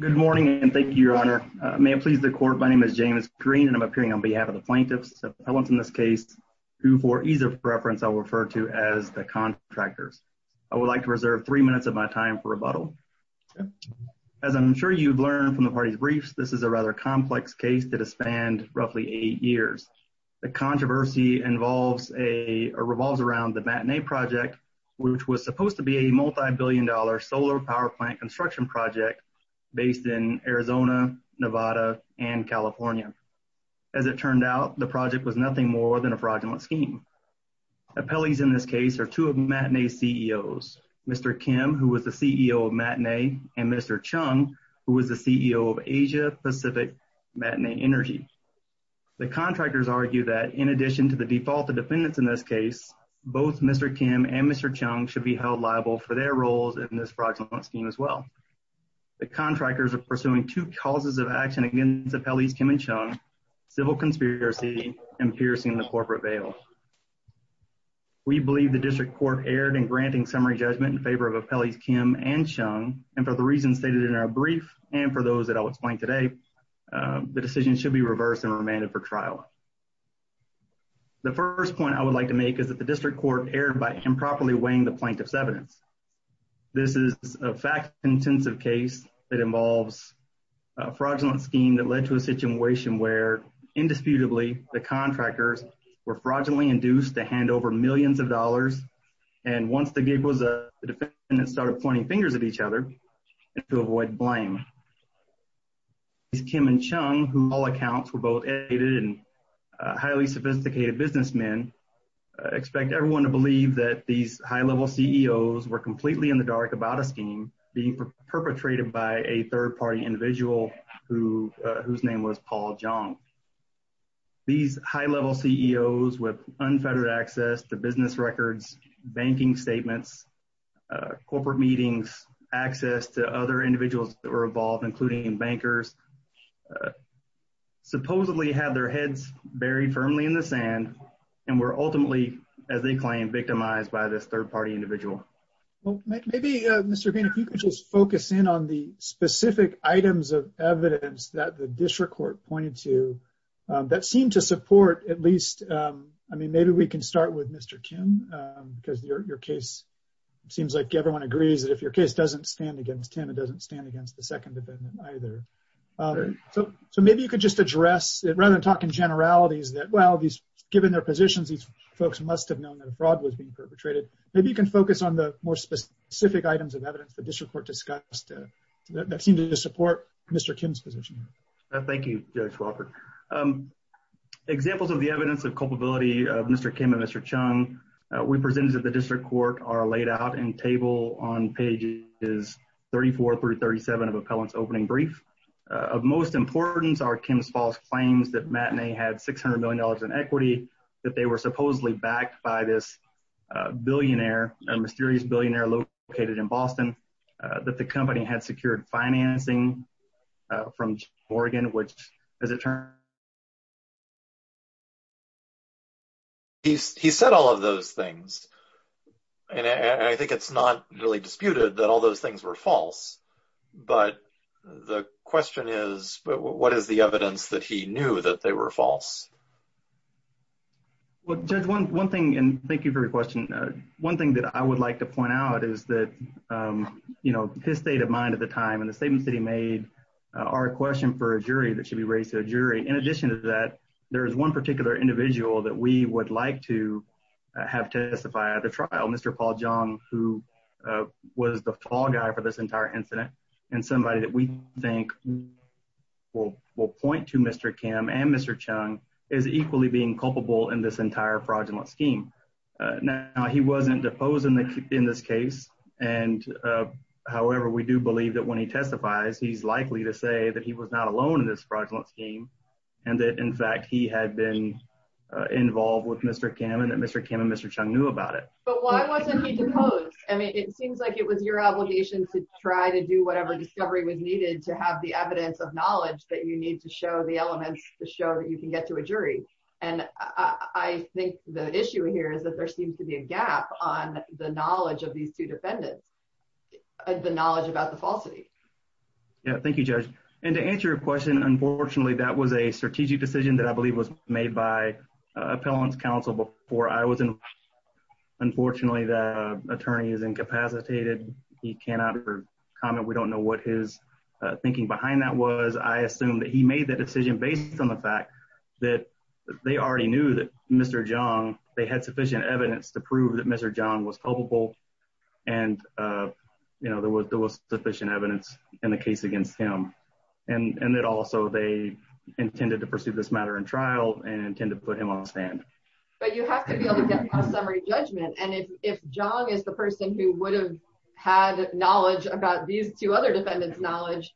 Good morning, and thank you, Your Honor. May it please the Court, my name is James Green, and I'm appearing on behalf of the plaintiffs of Pelham's in this case, who for ease of reference, I'll refer to as the contractors. I would like to reserve three minutes of my time for rebuttal. As I'm sure you've learned from the party's briefs, this is a rather complex case that has spanned roughly eight years. The controversy revolves around the Matinee project, which was supposed to be a multi-billion dollar solar power plant construction project based in Arizona, Nevada, and California. As it turned out, the project was nothing more than a fraudulent scheme. Appellees in this case are two of Matinee's CEOs, Mr. Kim, who was the CEO of Matinee, and Mr. Chung, who was the CEO of Asia Pacific Matinee Energy. The contractors argue that in addition to the default of defendants in this case, both Mr. Kim and Mr. Chung should be held liable for their roles in this fraudulent scheme as well. The contractors are pursuing two causes of action against Appellees Kim and Chung, civil conspiracy and piercing the corporate veil. We believe the district court erred in granting summary judgment in favor of Appellees Kim and Chung, and for the reasons stated in our brief, and for those that I'll explain today, the decision should be reversed and remanded for trial. The first point I would like to make is that the district court erred by improperly weighing the plaintiff's evidence. This is a fact-intensive case that involves a fraudulent scheme that led to a situation where indisputably, the contractors were fraudulently induced to hand over millions of dollars, and once the gig was up, the defendants started pointing fingers at each other to avoid blame. Appellees Kim and Chung, who all accounts were both aided and highly sophisticated businessmen, expect everyone to believe that these high-level CEOs were completely in the dark about a scheme being perpetrated by a third-party individual whose name was Paul Jong. These high-level CEOs with unfettered access to business records, banking statements, corporate meetings, access to other individuals that were involved, including bankers, supposedly had their heads buried firmly in the sand, and were ultimately, as they claim, victimized by this third-party individual. Well, maybe, Mr. Green, if you could just focus in on the specific items of evidence that the district court pointed to that seem to support at least, I mean, maybe we can start with Mr. Kim, because your case, it seems like everyone agrees that if your case doesn't stand against him, it doesn't stand against the second defendant either. So maybe you could just address, rather than talking generalities, that well, given their positions, these folks must have known that a fraud was being perpetrated. Maybe you can focus on the more specific items of evidence the district court discussed that seem to support Mr. Kim. Examples of the evidence of culpability of Mr. Kim and Mr. Chung, we presented that the district court are laid out in table on pages 34 through 37 of appellant's opening brief. Of most importance are Kim's false claims that Matinee had $600 million in equity, that they were supposedly backed by this billionaire, a mysterious billionaire located in Boston, that the company had secured financing from Oregon, which, as it turns out... He said all of those things. And I think it's not really disputed that all those things were false. But the question is, what is the evidence that he knew that they were false? Well, Judge, one thing, and thank you for your question. One thing that I would like to point out is that his state of mind at the time and the statements that he made are a question for a jury that should be raised to a jury. In addition to that, there is one particular individual that we would like to have testify at the trial, Mr. Paul Jong, who was the fall guy for this entire incident and somebody that we think will point to Mr. Kim and Mr. Chung as equally being culpable in this case. However, we do believe that when he testifies, he's likely to say that he was not alone in this fraudulent scheme and that, in fact, he had been involved with Mr. Kim and that Mr. Kim and Mr. Chung knew about it. But why wasn't he deposed? I mean, it seems like it was your obligation to try to do whatever discovery was needed to have the evidence of knowledge that you need to show the elements to show that you can get to a jury. And I think the issue here is that there seems to be a gap on the knowledge of these two defendants, the knowledge about the falsity. Yeah, thank you, Judge. And to answer your question, unfortunately, that was a strategic decision that I believe was made by Appellant's counsel before I was involved. Unfortunately, the attorney is incapacitated. He cannot comment. We don't know what his thinking behind that was. I assume that he made the decision based on the fact that they already knew that Mr. Jong, they had sufficient evidence to prove that Mr. Jong was culpable and, you know, there was sufficient evidence in the case against him and that also they intended to pursue this matter in trial and intend to put him on stand. But you have to be able to get a summary judgment. And if Jong is the person who would have had knowledge about these two other defendants' knowledge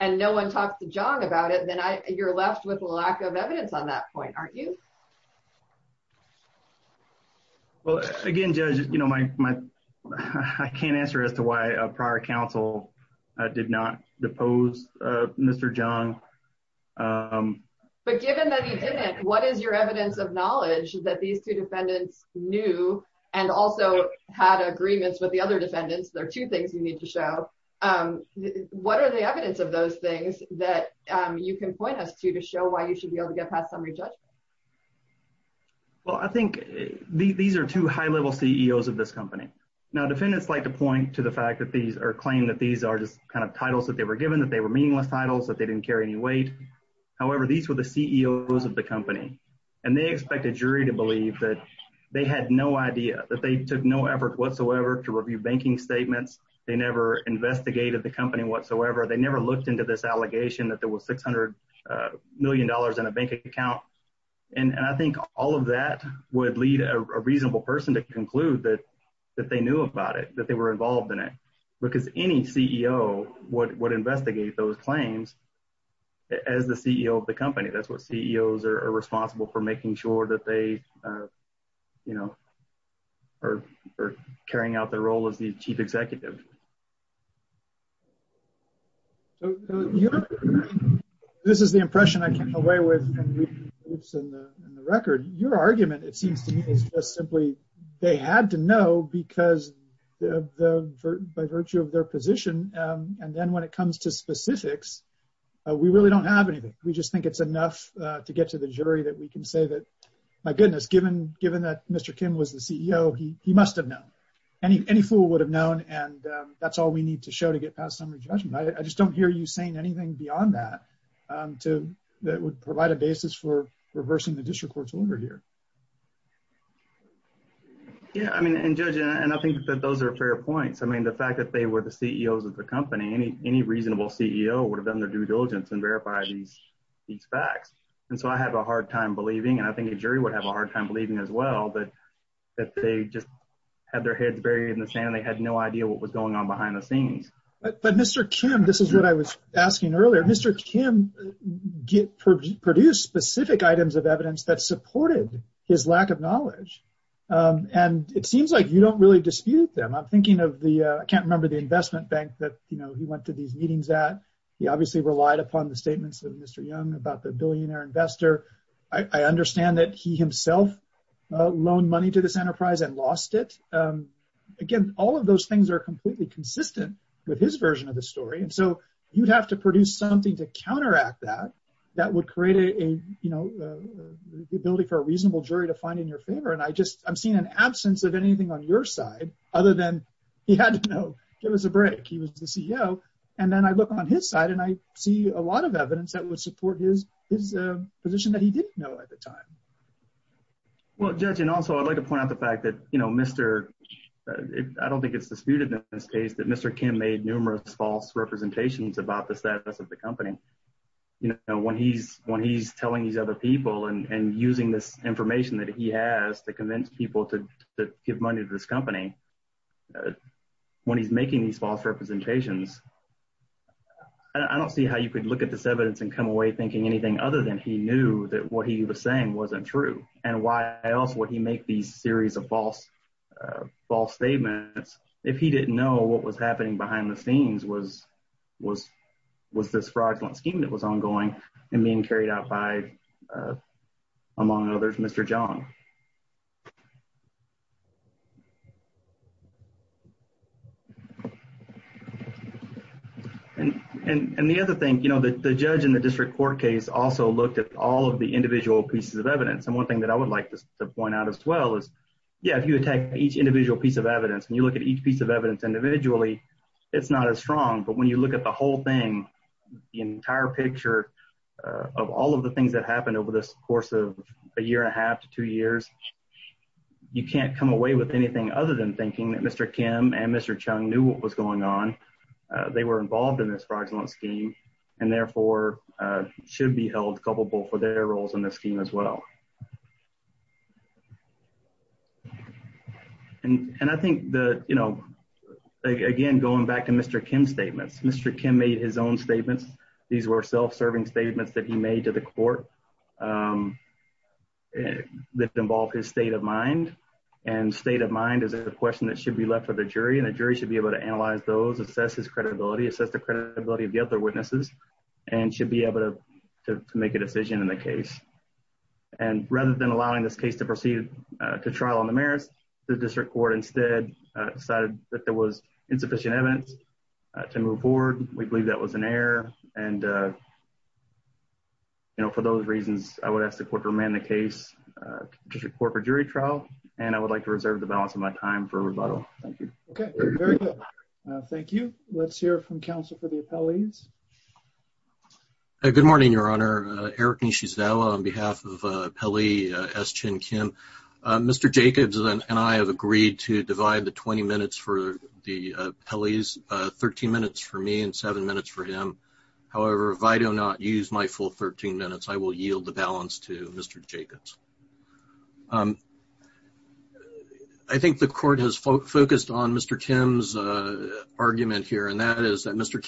and no one talked to Jong about it, then you're left with a lack of evidence on that point, aren't you? Well, again, Judge, you know, my I can't answer as to why a prior counsel did not depose Mr. Jong. But given that he didn't, what is your evidence of knowledge that these two defendants knew and also had agreements with the other defendants? There are two things you need to show. What are the evidence of those things that you can point us to to show why you should be able to get past summary judgment? Well, I think these are two high-level CEOs of this company. Now, defendants like to point to the fact that these are claimed that these are just kind of titles that they were given, that they were meaningless titles, that they didn't carry any weight. However, these were the CEOs of the company and they expect a jury to believe that they had no idea, that they took no effort whatsoever to review banking statements. They never investigated the company whatsoever. They never looked into this allegation that there was $600 million in a bank account. And I think all of that would lead a reasonable person to conclude that they knew about it, that they were involved in it. Because any CEO would investigate those claims as the CEO of the company. That's what CEOs are responsible for making sure that they, you know, are carrying out their role as the chief executive. This is the impression I came away with in the record. Your argument, it seems to me, is just simply they had to know because by virtue of their position. And then when it comes to specifics, we really don't have anything. We just think it's enough to get to the jury that we can say that, my goodness, given that Mr. Kim was the CEO, he must have known. Any fool would have known and that's all we need to show to get past summary judgment. I just don't hear you saying anything beyond that that would provide a basis for reversing the district court's order here. Yeah, I mean, and Judge, and I think that those are fair points. I mean, the fact that they were the CEOs of the company, any reasonable CEO would have done their due diligence and verify these facts. And so I have a hard time believing, and I think a jury would have a hard time believing as well, that they just had their heads buried in the sand. They had no idea what was going on behind the scenes. But Mr. Kim, this is what I was asking earlier, Mr. Kim produced specific items of evidence that supported his lack of knowledge. And it seems like you don't really dispute them. I'm thinking of the, I can't remember the investment bank that, you know, went to these meetings at. He obviously relied upon the statements of Mr. Young about the billionaire investor. I understand that he himself loaned money to this enterprise and lost it. Again, all of those things are completely consistent with his version of the story. And so you'd have to produce something to counteract that, that would create a, you know, the ability for a reasonable jury to find in your favor. And I just, I'm seeing an absence of anything on your and then I look on his side and I see a lot of evidence that would support his, his position that he didn't know at the time. Well, judge, and also I'd like to point out the fact that, you know, Mr. I don't think it's disputed in this case that Mr. Kim made numerous false representations about the status of the company. You know, when he's, when he's telling these other people and using this information that he has to convince people to give money to this company, when he's making these false representations, I don't see how you could look at this evidence and come away thinking anything other than he knew that what he was saying wasn't true. And why else would he make these series of false, false statements if he didn't know what was happening behind the scenes was, was, was this fraudulent scheme that was ongoing and being carried out by among others, Mr. John. And, and the other thing, you know, the judge in the district court case also looked at all of the individual pieces of evidence. And one thing that I would like to point out as well is, yeah, if you attack each individual piece of evidence and you look at each piece of evidence individually, it's not as strong, but when you look at the whole thing, the entire picture of all of the things that happened over this course of a year and a half to two years, you can't come away with anything other than thinking that Mr. Kim and Mr. Chung knew what was going on. They were involved in this fraudulent scheme and therefore should be held culpable for their roles in this scheme as well. And, and I think the, you know, again, going back to Mr. Kim statements, Mr. Kim made his own statements. These were self-serving statements that he made to the court that involved his state of mind and state of mind is a question that should be left for the jury. And the jury should be able to analyze those assess his credibility, assess the credibility of the other witnesses and should be able to make a decision in the case. And rather than allowing this case to proceed to trial on the merits, the district court instead decided that there was insufficient evidence to move forward. We believe that was an error. And, uh, you know, for those reasons, I would ask the court to remand the case, uh, district court for jury trial. And I would like to reserve the balance of my time for rebuttal. Thank you. Okay. Very good. Thank you. Let's hear from counsel for the appellees. A good morning, your honor, uh, Eric Nishizawa on behalf of, uh, Pelly, uh, S chin, Kim, uh, Mr. Jacobs and I have agreed to divide the 20 minutes for the, uh, Pelly's, uh, 13 minutes for me and seven minutes for him. However, if I do not use my full 13 minutes, I will yield the balance to Mr. Jacobs. Um, I think the court has focused on Mr. Tim's, uh, argument here, and that is that Mr.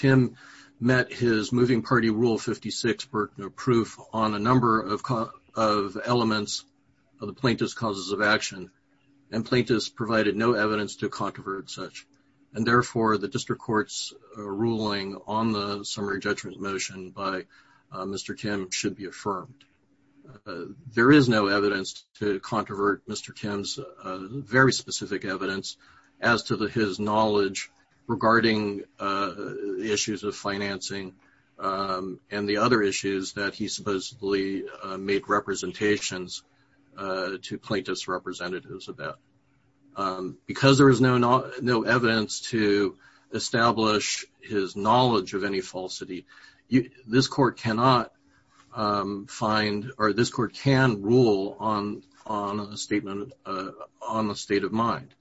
Rule 56 work, no proof on a number of, of elements of the plaintiff's causes of action and plaintiffs provided no evidence to controvert such. And therefore the district court's ruling on the summary judgment motion by, uh, Mr. Kim should be affirmed. Uh, there is no evidence to controvert Mr. Kim's, uh, very specific evidence as to the, his knowledge regarding, uh, issues of financing, um, and the other issues that he supposedly, uh, make representations, uh, to plaintiffs representatives of that. Um, because there was no, no, no evidence to establish his knowledge of any falsity, this court cannot, um, find, or this court can rule on, on a statement, uh, on the state of mind.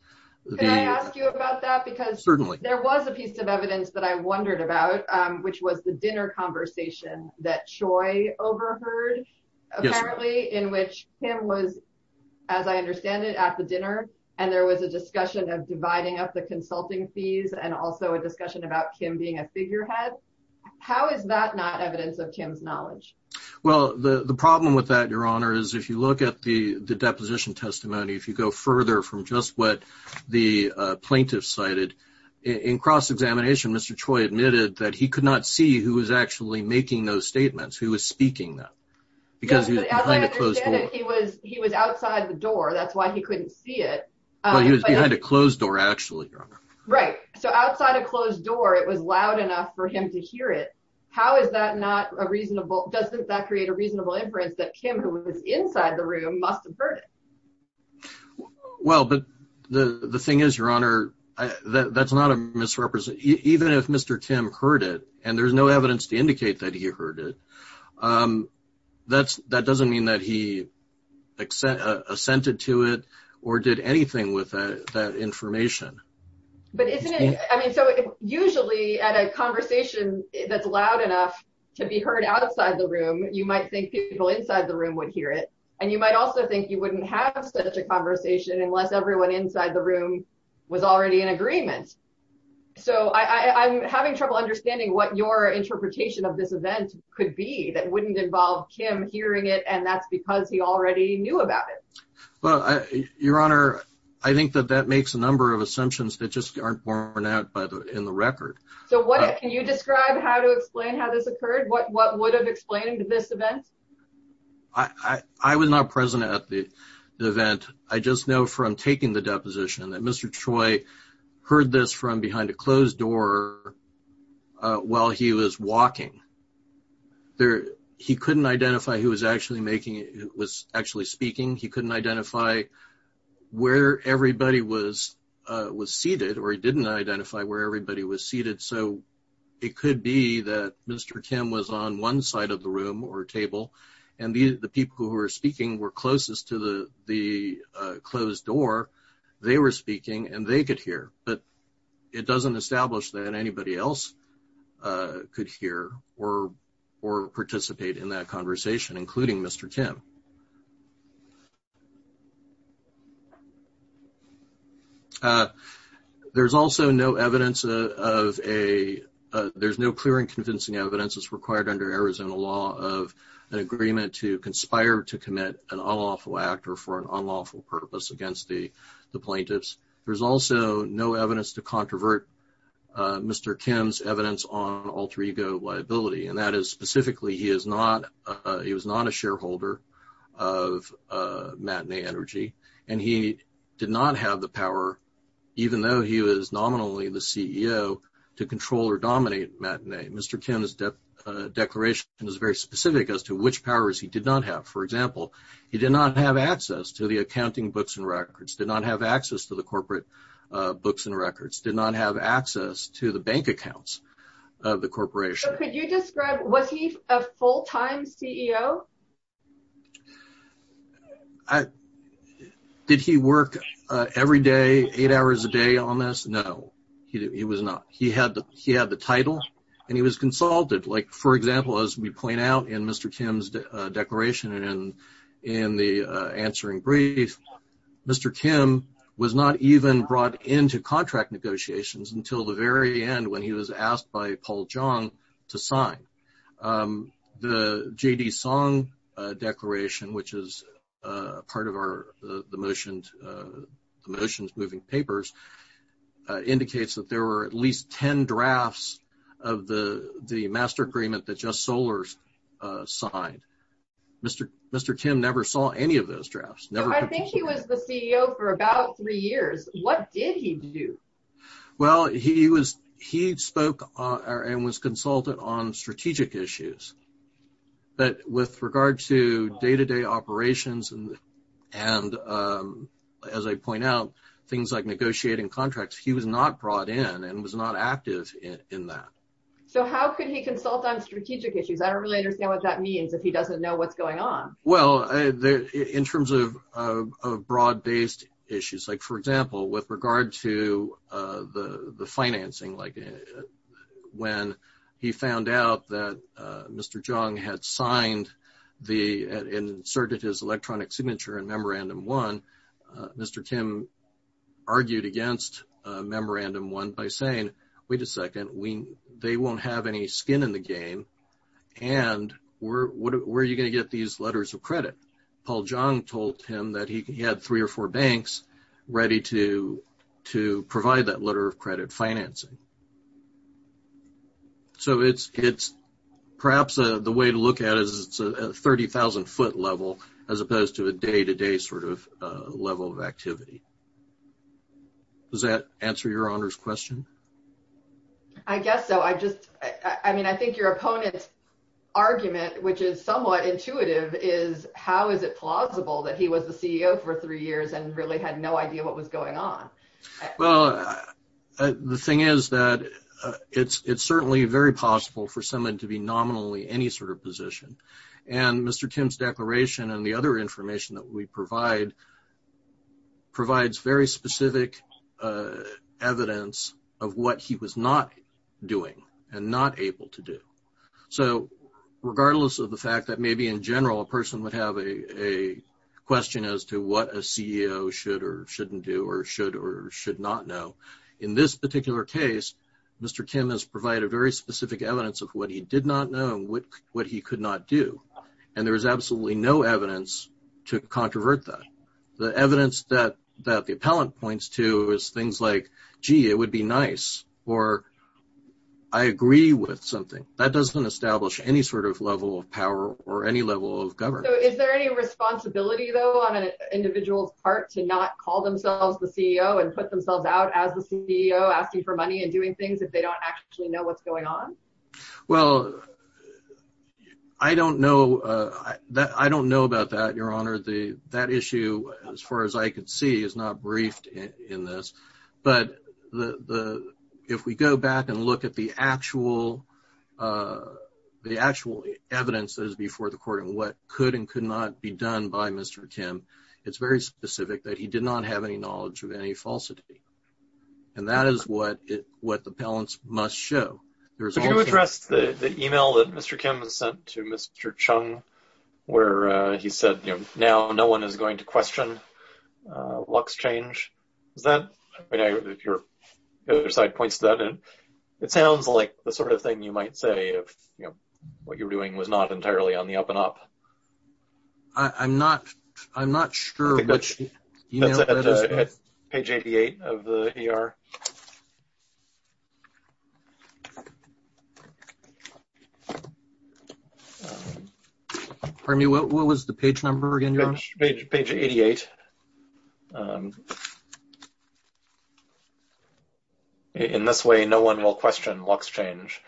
Can I ask you about that? Because certainly there was a piece of evidence that I wondered about, um, which was the dinner conversation that Choi overheard apparently in which Kim was, as I understand it at the dinner. And there was a discussion of dividing up the consulting fees and also a discussion about Kim being a figurehead. How is that not evidence of Kim's knowledge? Well, the, the problem with that, your honor, is if you look at the, the deposition testimony, if you go further from just what the plaintiff cited in cross-examination, Mr. Choi admitted that he could not see who was actually making those statements, who was speaking them because he was behind a closed door. He was, he was outside the door. That's why he couldn't see it. He was behind a closed door actually. Right. So outside a closed door, it was loud enough for him to hear it. How is that not a reasonable, doesn't that create a reasonable inference that Kim who was inside the room must've heard it? Well, but the, the thing is your honor, that's not a misrepresentation. Even if Mr. Kim heard it and there's no evidence to indicate that he heard it, um, that's, that doesn't mean that he assented to it or did anything with that information. But isn't it, I mean, so usually at a conversation that's loud enough to be heard outside the room, you might think people inside the room would hear it. And you might also think you wouldn't have such a conversation unless everyone inside the room was already in agreement. So I, I, I'm having trouble understanding what your interpretation of this event could be that wouldn't involve Kim hearing it. And that's because he already knew about it. Well, I, your honor, I think that that makes a number of assumptions that just aren't borne out by the, in the record. So what can you describe how to explain how this occurred? What, what would have explained this event? I, I was not present at the event. I just know from taking the deposition that Mr. Choi heard this from behind a closed door, uh, while he was walking there, he couldn't identify who was actually making, was actually speaking. He couldn't identify where everybody was, uh, was seated or he didn't identify where everybody was seated. So it could be that Mr. Kim was on one side of the room or table and these, the people who were speaking were closest to the, the, uh, closed door. They were speaking and they could hear, but it doesn't establish that anybody else, uh, could hear or, or participate in that conversation, including Mr. Kim. Uh, there's also no evidence of a, uh, there's no clear and to commit an unlawful act or for an unlawful purpose against the, the plaintiffs. There's also no evidence to controvert, uh, Mr. Kim's evidence on alter ego liability. And that is specifically, he is not, uh, he was not a shareholder of, uh, matinee energy, and he did not have the power, even though he was nominally the CEO to control or dominate matinee. Mr. Kim's declaration is very specific as to which powers he did not have. For example, he did not have access to the accounting books and records, did not have access to the corporate, uh, books and records, did not have access to the bank accounts of the corporation. Could you describe, was he a full time CEO? I, did he work, uh, every day, eight hours a day on this? No, he was not. He had the, he had the title and he was consulted. Like for example, as we point out in Mr. Kim's, uh, declaration and in the, uh, answering brief, Mr. Kim was not even brought into contract negotiations until the very end when he was asked by Paul Jong to sign. Um, the J.D. Song, uh, declaration, which is, uh, part of our, uh, the motions, uh, the motions moving papers, uh, indicates that there were at least 10 drafts of the, the master agreement that just Solar's, uh, signed. Mr. Mr. Kim never saw any of those drafts. Never. I think he was the CEO for about three years. What did he do? Well, he was, he spoke, uh, and was consulted on strategic issues, but with regard to day-to-day operations and, and, um, as I point out, things like negotiating contracts, he was not brought in and was not active in that. So how could he consult on strategic issues? I don't really understand what that means if he doesn't know what's going on. Well, in terms of, uh, of broad based issues, like for example, with regard to, uh, the, the financing, like when he found out that, uh, Mr. Jong had signed the, uh, inserted his memorandum one by saying, wait a second, we, they won't have any skin in the game. And we're, what are, where are you going to get these letters of credit? Paul Jong told him that he had three or four banks ready to, to provide that letter of credit financing. So it's, it's perhaps, uh, the way to look at it is it's a 30,000 foot level as opposed to a day-to-day sort of, uh, level of activity. Does that answer your honor's question? I guess so. I just, I mean, I think your opponent's argument, which is somewhat intuitive is how is it plausible that he was the CEO for three years and really had no idea what was going on? Well, uh, the thing is that, uh, it's, it's certainly very possible for someone to be that we provide provides very specific, uh, evidence of what he was not doing and not able to do. So regardless of the fact that maybe in general, a person would have a, a question as to what a CEO should or shouldn't do, or should or should not know in this particular case, Mr. Kim has provided very specific evidence of what he did not know and what he could not do. And there was absolutely no evidence to controvert that. The evidence that, that the appellant points to is things like, gee, it would be nice, or I agree with something that doesn't establish any sort of level of power or any level of government. Is there any responsibility though, on an individual's part to not call themselves the CEO and put themselves out as the CEO asking for money and doing things if they don't actually know what's going on? Well, I don't know. Uh, I don't know about that. Your honor, the, that issue as far as I could see is not briefed in this, but the, the, if we go back and look at the actual, uh, the actual evidence that is before the court and what could and could not be done by Mr. Kim, it's very specific that he did not have any knowledge of any falsity. And that is what it, the appellants must show. There's... Could you address the, the email that Mr. Kim sent to Mr. Chung where, uh, he said, you know, now no one is going to question, uh, luck's change. Is that, I know your other side points to that. And it sounds like the sort of thing you might say if, you know, what you're doing was not entirely on the up and up. I, I'm not, I'm not sure which... Pardon me, what was the page number again, your honor? Page, page 88. In this way, no one will question luck's change.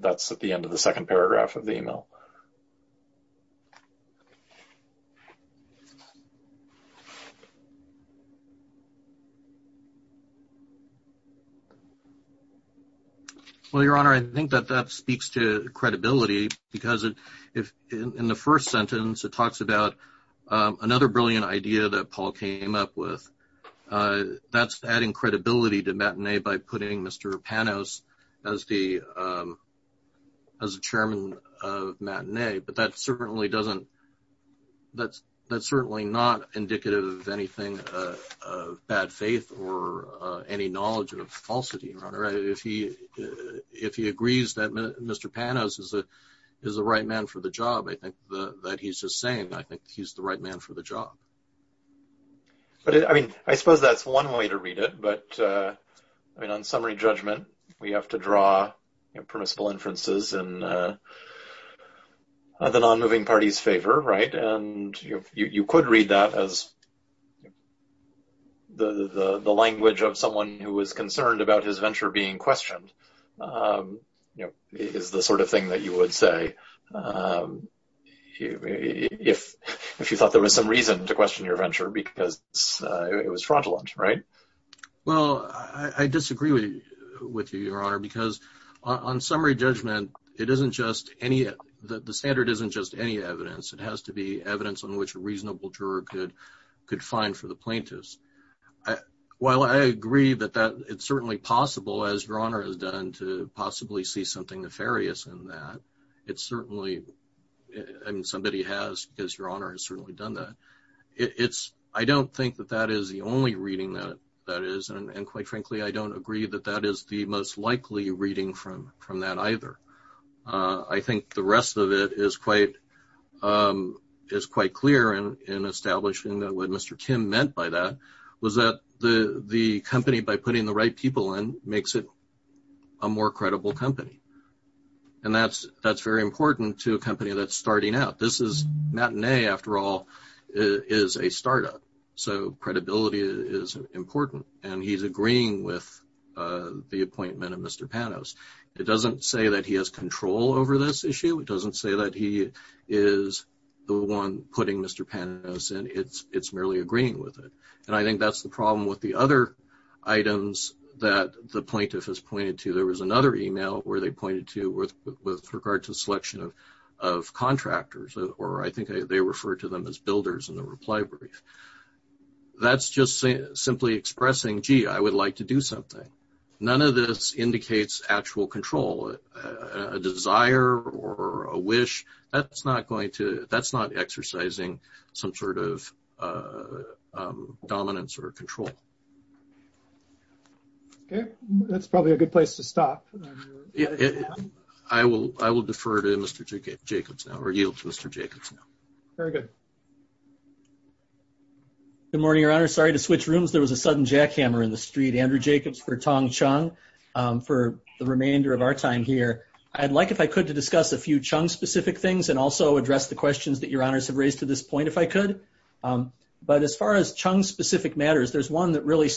That's at the end of the second paragraph of the email. Well, your honor, I think that that speaks to credibility because it, if in the first sentence, it talks about, um, another brilliant idea that Paul came up with, uh, that's adding credibility to matinee by putting Mr. Panos as the, um, as a chairman of matinee. But that certainly doesn't, that's, that's certainly not indicative of anything, uh, of bad faith or, uh, any knowledge of falsity, your honor. If he, if he agrees that Mr. Panos is a, is the right man for the job, I think that he's just saying, I think he's the right man for the job. But I mean, I suppose that's one way to read it, but, uh, I mean, on summary judgment, we have to draw, you know, permissible inferences in, uh, the non-moving party's favor, right? And you could read that as the, the, the language of someone who was concerned about his venture being questioned, um, you know, is the sort of thing that you would say, um, if, if you thought there was some reason to question your venture because it was fraudulent, right? Well, I disagree with you, your honor, because on summary judgment, it isn't just any, the standard isn't just any evidence. It has to be evidence on which a reasonable juror could, could find for the plaintiffs. I, while I agree that that it's certainly possible as your honor has done to possibly see something nefarious in that, it's certainly, I mean, somebody has, because your honor has certainly done that. It's, I don't think that that is the only reading that, that is. And quite frankly, I don't agree that that is the most likely reading from, from that either. Uh, I think the rest of it is quite, um, is quite clear in, in establishing that what Mr. Kim meant by that was that the, the company by putting the right people in makes it a more credible company. And that's, that's very important to a company that's starting out. This is not an A after all is a startup. So credibility is important and he's agreeing with, uh, the appointment of Mr. Panos. It doesn't say that he has control over this issue. It doesn't say that he is the one putting Mr. Panos and it's, it's merely agreeing with it. And I think that's the problem with the other items that the plaintiff has pointed to. There was another email where they pointed to with, with regard to the selection of, of contractors, or I think they refer to them as builders in the reply brief. That's just saying simply expressing, gee, I would like to do something. None of this indicates actual control, a desire or a wish that's not going to, that's not exercising some sort of, uh, um, dominance or control. Okay. That's probably a good place to stop. Yeah, I will, I will defer to Mr. Jacobs now or yield to Mr. Jacobs now. Very good. Good morning, Your Honor. Sorry to switch rooms. There was a sudden jackhammer in the street, Andrew Jacobs for Tong Chung, um, for the remainder of our time here. I'd like, if I could, to discuss a few Chung specific things and also address the questions that Your Honors have raised to this point, if I could. Um, but as far as Chung specific matters, there's one that really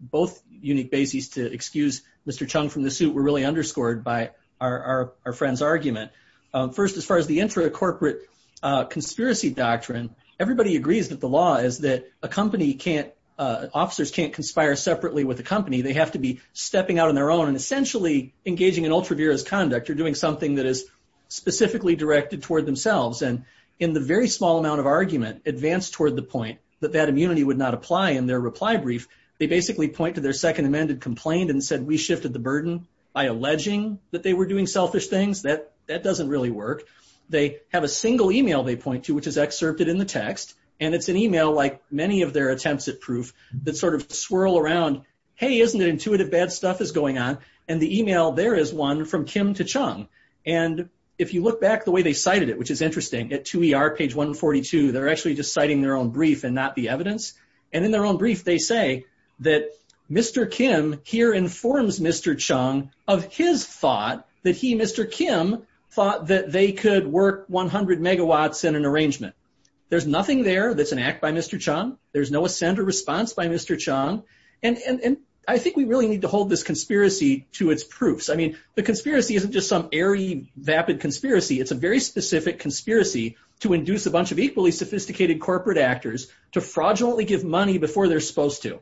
both unique bases to excuse Mr. Chung from the suit were really underscored by our, our, our friend's argument. Um, first, as far as the intra-corporate, uh, conspiracy doctrine, everybody agrees that the law is that a company can't, uh, officers can't conspire separately with the company. They have to be stepping out on their own and essentially engaging in ultra-virus conduct or doing something that is specifically directed toward themselves. And in the very small amount of argument advanced toward the point that that immunity would not apply in their reply brief, they basically point to their second amended complaint and said, we shifted the burden by alleging that they were doing selfish things. That, that doesn't really work. They have a single email they point to, which is excerpted in the text. And it's an email, like many of their attempts at proof that sort of swirl around, hey, isn't it intuitive bad stuff is going on. And the email there is one from Kim to Chung. And if you look back the way they cited it, which is interesting at 2ER page 142, they're actually just citing their own brief and not the brief. They say that Mr. Kim here informs Mr. Chung of his thought that he, Mr. Kim thought that they could work 100 megawatts in an arrangement. There's nothing there. That's an act by Mr. Chung. There's no assent or response by Mr. Chung. And I think we really need to hold this conspiracy to its proofs. I mean, the conspiracy isn't just some airy vapid conspiracy. It's a very specific conspiracy to induce a bunch of equally sophisticated corporate actors to fraudulently give money before they're supposed to.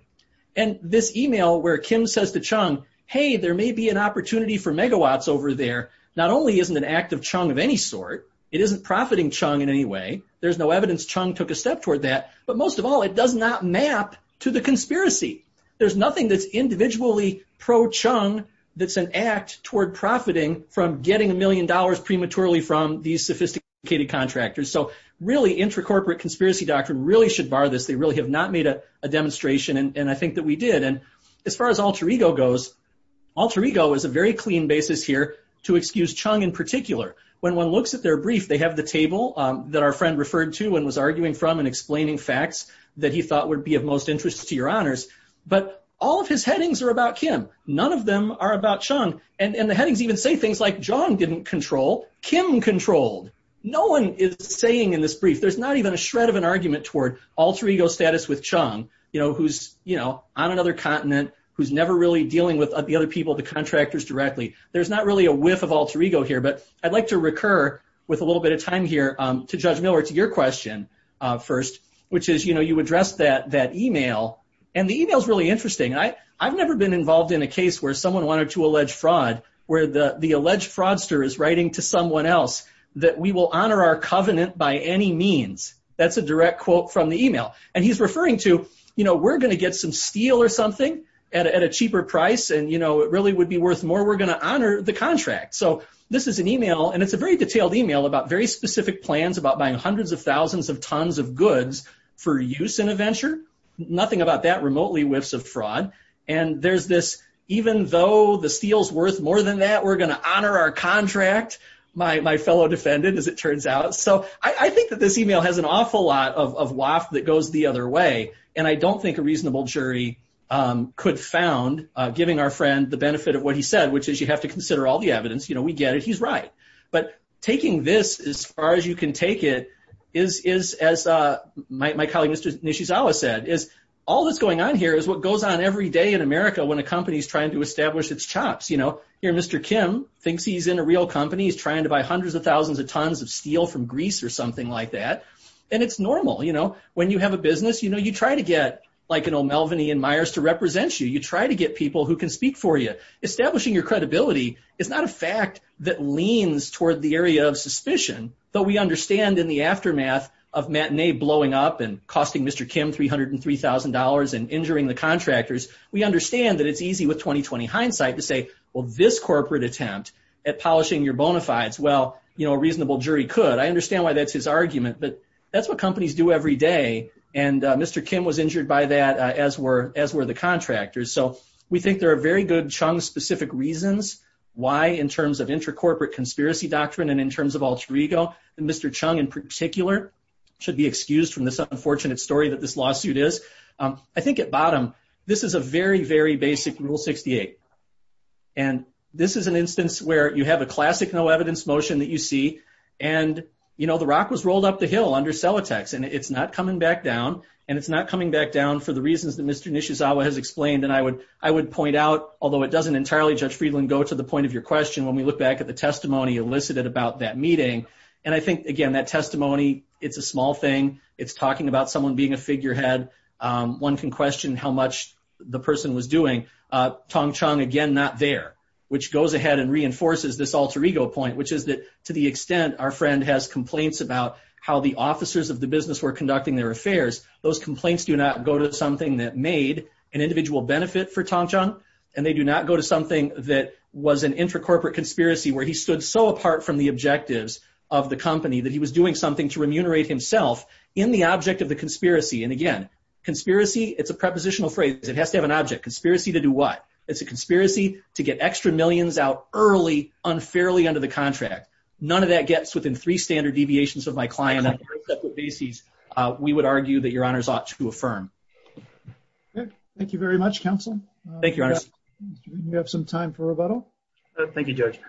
And this email where Kim says to Chung, hey, there may be an opportunity for megawatts over there, not only isn't an act of Chung of any sort, it isn't profiting Chung in any way. There's no evidence Chung took a step toward that. But most of all, it does not map to the conspiracy. There's nothing that's individually pro-Chung that's an act toward profiting from getting a million dollars prematurely from these sophisticated contractors. So really, intracorporate conspiracy doctrine really should bar this. They really have not made a demonstration. And I think that we did. And as far as alter ego goes, alter ego is a very clean basis here to excuse Chung in particular. When one looks at their brief, they have the table that our friend referred to and was arguing from and explaining facts that he thought would be of most interest to your honors. But all of his headings are about Kim. None of them are about Chung. And the headings even say John didn't control, Kim controlled. No one is saying in this brief, there's not even a shred of an argument toward alter ego status with Chung, who's on another continent, who's never really dealing with the other people, the contractors directly. There's not really a whiff of alter ego here. But I'd like to recur with a little bit of time here to Judge Miller to your question first, which is you addressed that email. And the email is really interesting. I've never been involved in a case where someone wanted to allege fraud, where the alleged fraudster is writing to someone else that we will honor our covenant by any means. That's a direct quote from the email. And he's referring to, we're going to get some steel or something at a cheaper price. And it really would be worth more. We're going to honor the contract. So this is an email, and it's a very detailed email about very specific plans about buying hundreds of thousands of tons of goods for use in a venture. Nothing about that remotely whiffs of fraud. And there's this, even though the steel's worth more than that, we're going to honor our contract, my fellow defendant, as it turns out. So I think that this email has an awful lot of waft that goes the other way. And I don't think a reasonable jury could found, giving our friend the benefit of what he said, which is you have to consider all the evidence. You know, we get it. He's right. But taking this as far as you can take it is, as my colleague, Mr. Nishizawa said, is all that's going on here is what goes on every day in America when a company's trying to establish its chops. You know, here Mr. Kim thinks he's in a real company. He's trying to buy hundreds of thousands of tons of steel from Greece or something like that. And it's normal. You know, when you have a business, you know, you try to get like an O'Melveny and Myers to represent you. You try to get people who can speak for you. Establishing your credibility is not a fact that leans toward the area of suspicion, though we understand in the aftermath of matinee blowing up and costing Mr. Kim $303,000 and injuring the contractors. We understand that it's easy with 20, 20 hindsight to say, well, this corporate attempt at polishing your bona fides. Well, you know, a reasonable jury could. I understand why that's his argument, but that's what companies do every day. And Mr. Kim was injured by that as were as were the contractors. So we think there are very good chunk specific reasons why in terms of inter-corporate conspiracy doctrine and in terms of alter ego, Mr. Chung in particular should be excused from this unfortunate story that this lawsuit is. I think at bottom, this is a very, very basic rule 68. And this is an instance where you have a classic no evidence motion that you see. And, you know, the rock was rolled up the hill under cell attacks and it's not coming back down and it's not coming back down for the reasons that has explained. And I would, I would point out, although it doesn't entirely judge Friedland go to the point of your question. When we look back at the testimony elicited about that meeting. And I think again, that testimony, it's a small thing. It's talking about someone being a figure head. Um, one can question how much the person was doing, uh, Tong Chong again, not there, which goes ahead and reinforces this alter ego point, which is that to the extent our friend has complaints about how the officers of the business were conducting their affairs. Those complaints do not go to something that made an individual benefit for Tong Chong. And they do not go to something that was an intracorporate conspiracy where he stood so apart from the objectives of the company that he was doing something to remunerate himself in the object of the conspiracy. And again, conspiracy, it's a prepositional phrase. It has to have an object conspiracy to do what it's a conspiracy to get extra millions out early, unfairly under the contract. None of that gets within three standard deviations of my client. Uh, we would argue that honors ought to affirm. Okay, thank you very much. Council. Thank you. You have some time for rebuttal. Thank you, Judge.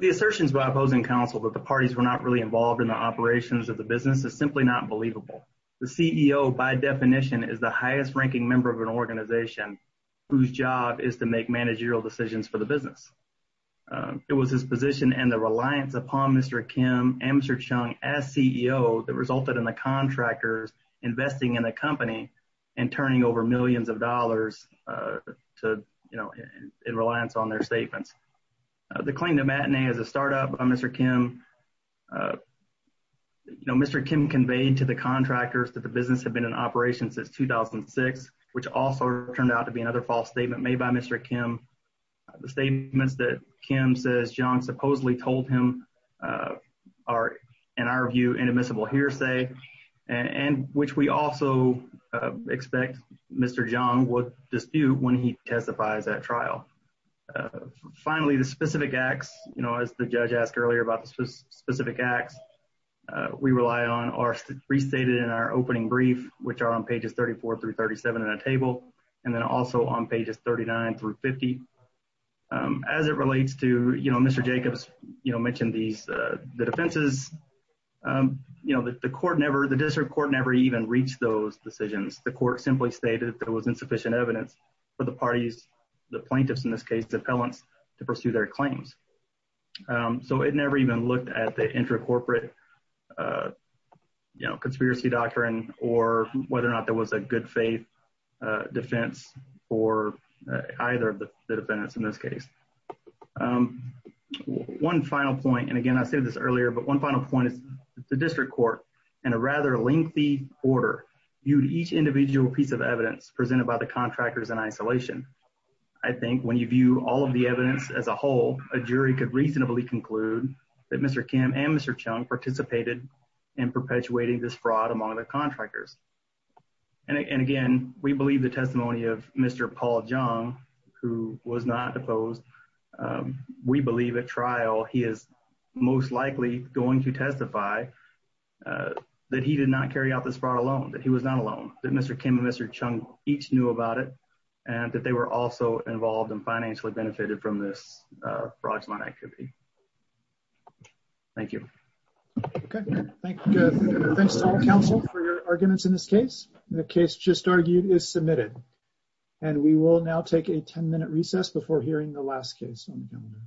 The assertions by opposing council that the parties were not really involved in the operations of the business is simply not believable. The CEO, by definition, is the highest ranking member of an organization whose job is to make managerial decisions for the business. Uh, it was his position and the reliance upon Mr Kim answer Chung as CEO that contractors investing in the company and turning over millions of dollars, uh, to, you know, in reliance on their statements. Uh, the claim to matinee as a startup on Mr. Kim, uh, you know, Mr. Kim conveyed to the contractors that the business had been in operation since 2006, which also turned out to be another false statement made by Mr. Kim. The statements that Kim says John supposedly told him, uh, are, in our view, inadmissible hearsay and which we also expect Mr. John would dispute when he testifies at trial. Uh, finally, the specific acts, you know, as the judge asked earlier about the specific acts we rely on are restated in our opening brief, which are on pages 34 through 37 in a table and then also on pages 39 through 50. Um, as it relates to, you know, Mr. Jacobs, you know, mentioned these, uh, the defenses, um, you know, the court never, the district court never even reached those decisions. The court simply stated that it was insufficient evidence for the parties, the plaintiffs in this case, the appellants to pursue their claims. Um, so it never even looked at the intra corporate, uh, you know, conspiracy doctrine or whether or not there was a good faith, uh, defense for either of the defendants in this case. Um, one final point. And again, I said this earlier, but one final point is the district court and a rather lengthy order viewed each individual piece of evidence presented by the contractors in isolation. I think when you view all of the in perpetuating this fraud among the contractors. And again, we believe the testimony of Mr. Paul Jung, who was not opposed. Um, we believe at trial, he is most likely going to testify, uh, that he did not carry out this far alone, that he was not alone that Mr. Kim and Mr. Chung each knew about it and that they were also involved in financially benefited from this, uh, fraudulent activity. Thank you. Okay. Thanks to all counsel for your arguments in this case. The case just argued is submitted and we will now take a 10 minute recess before hearing the last case on the calendar.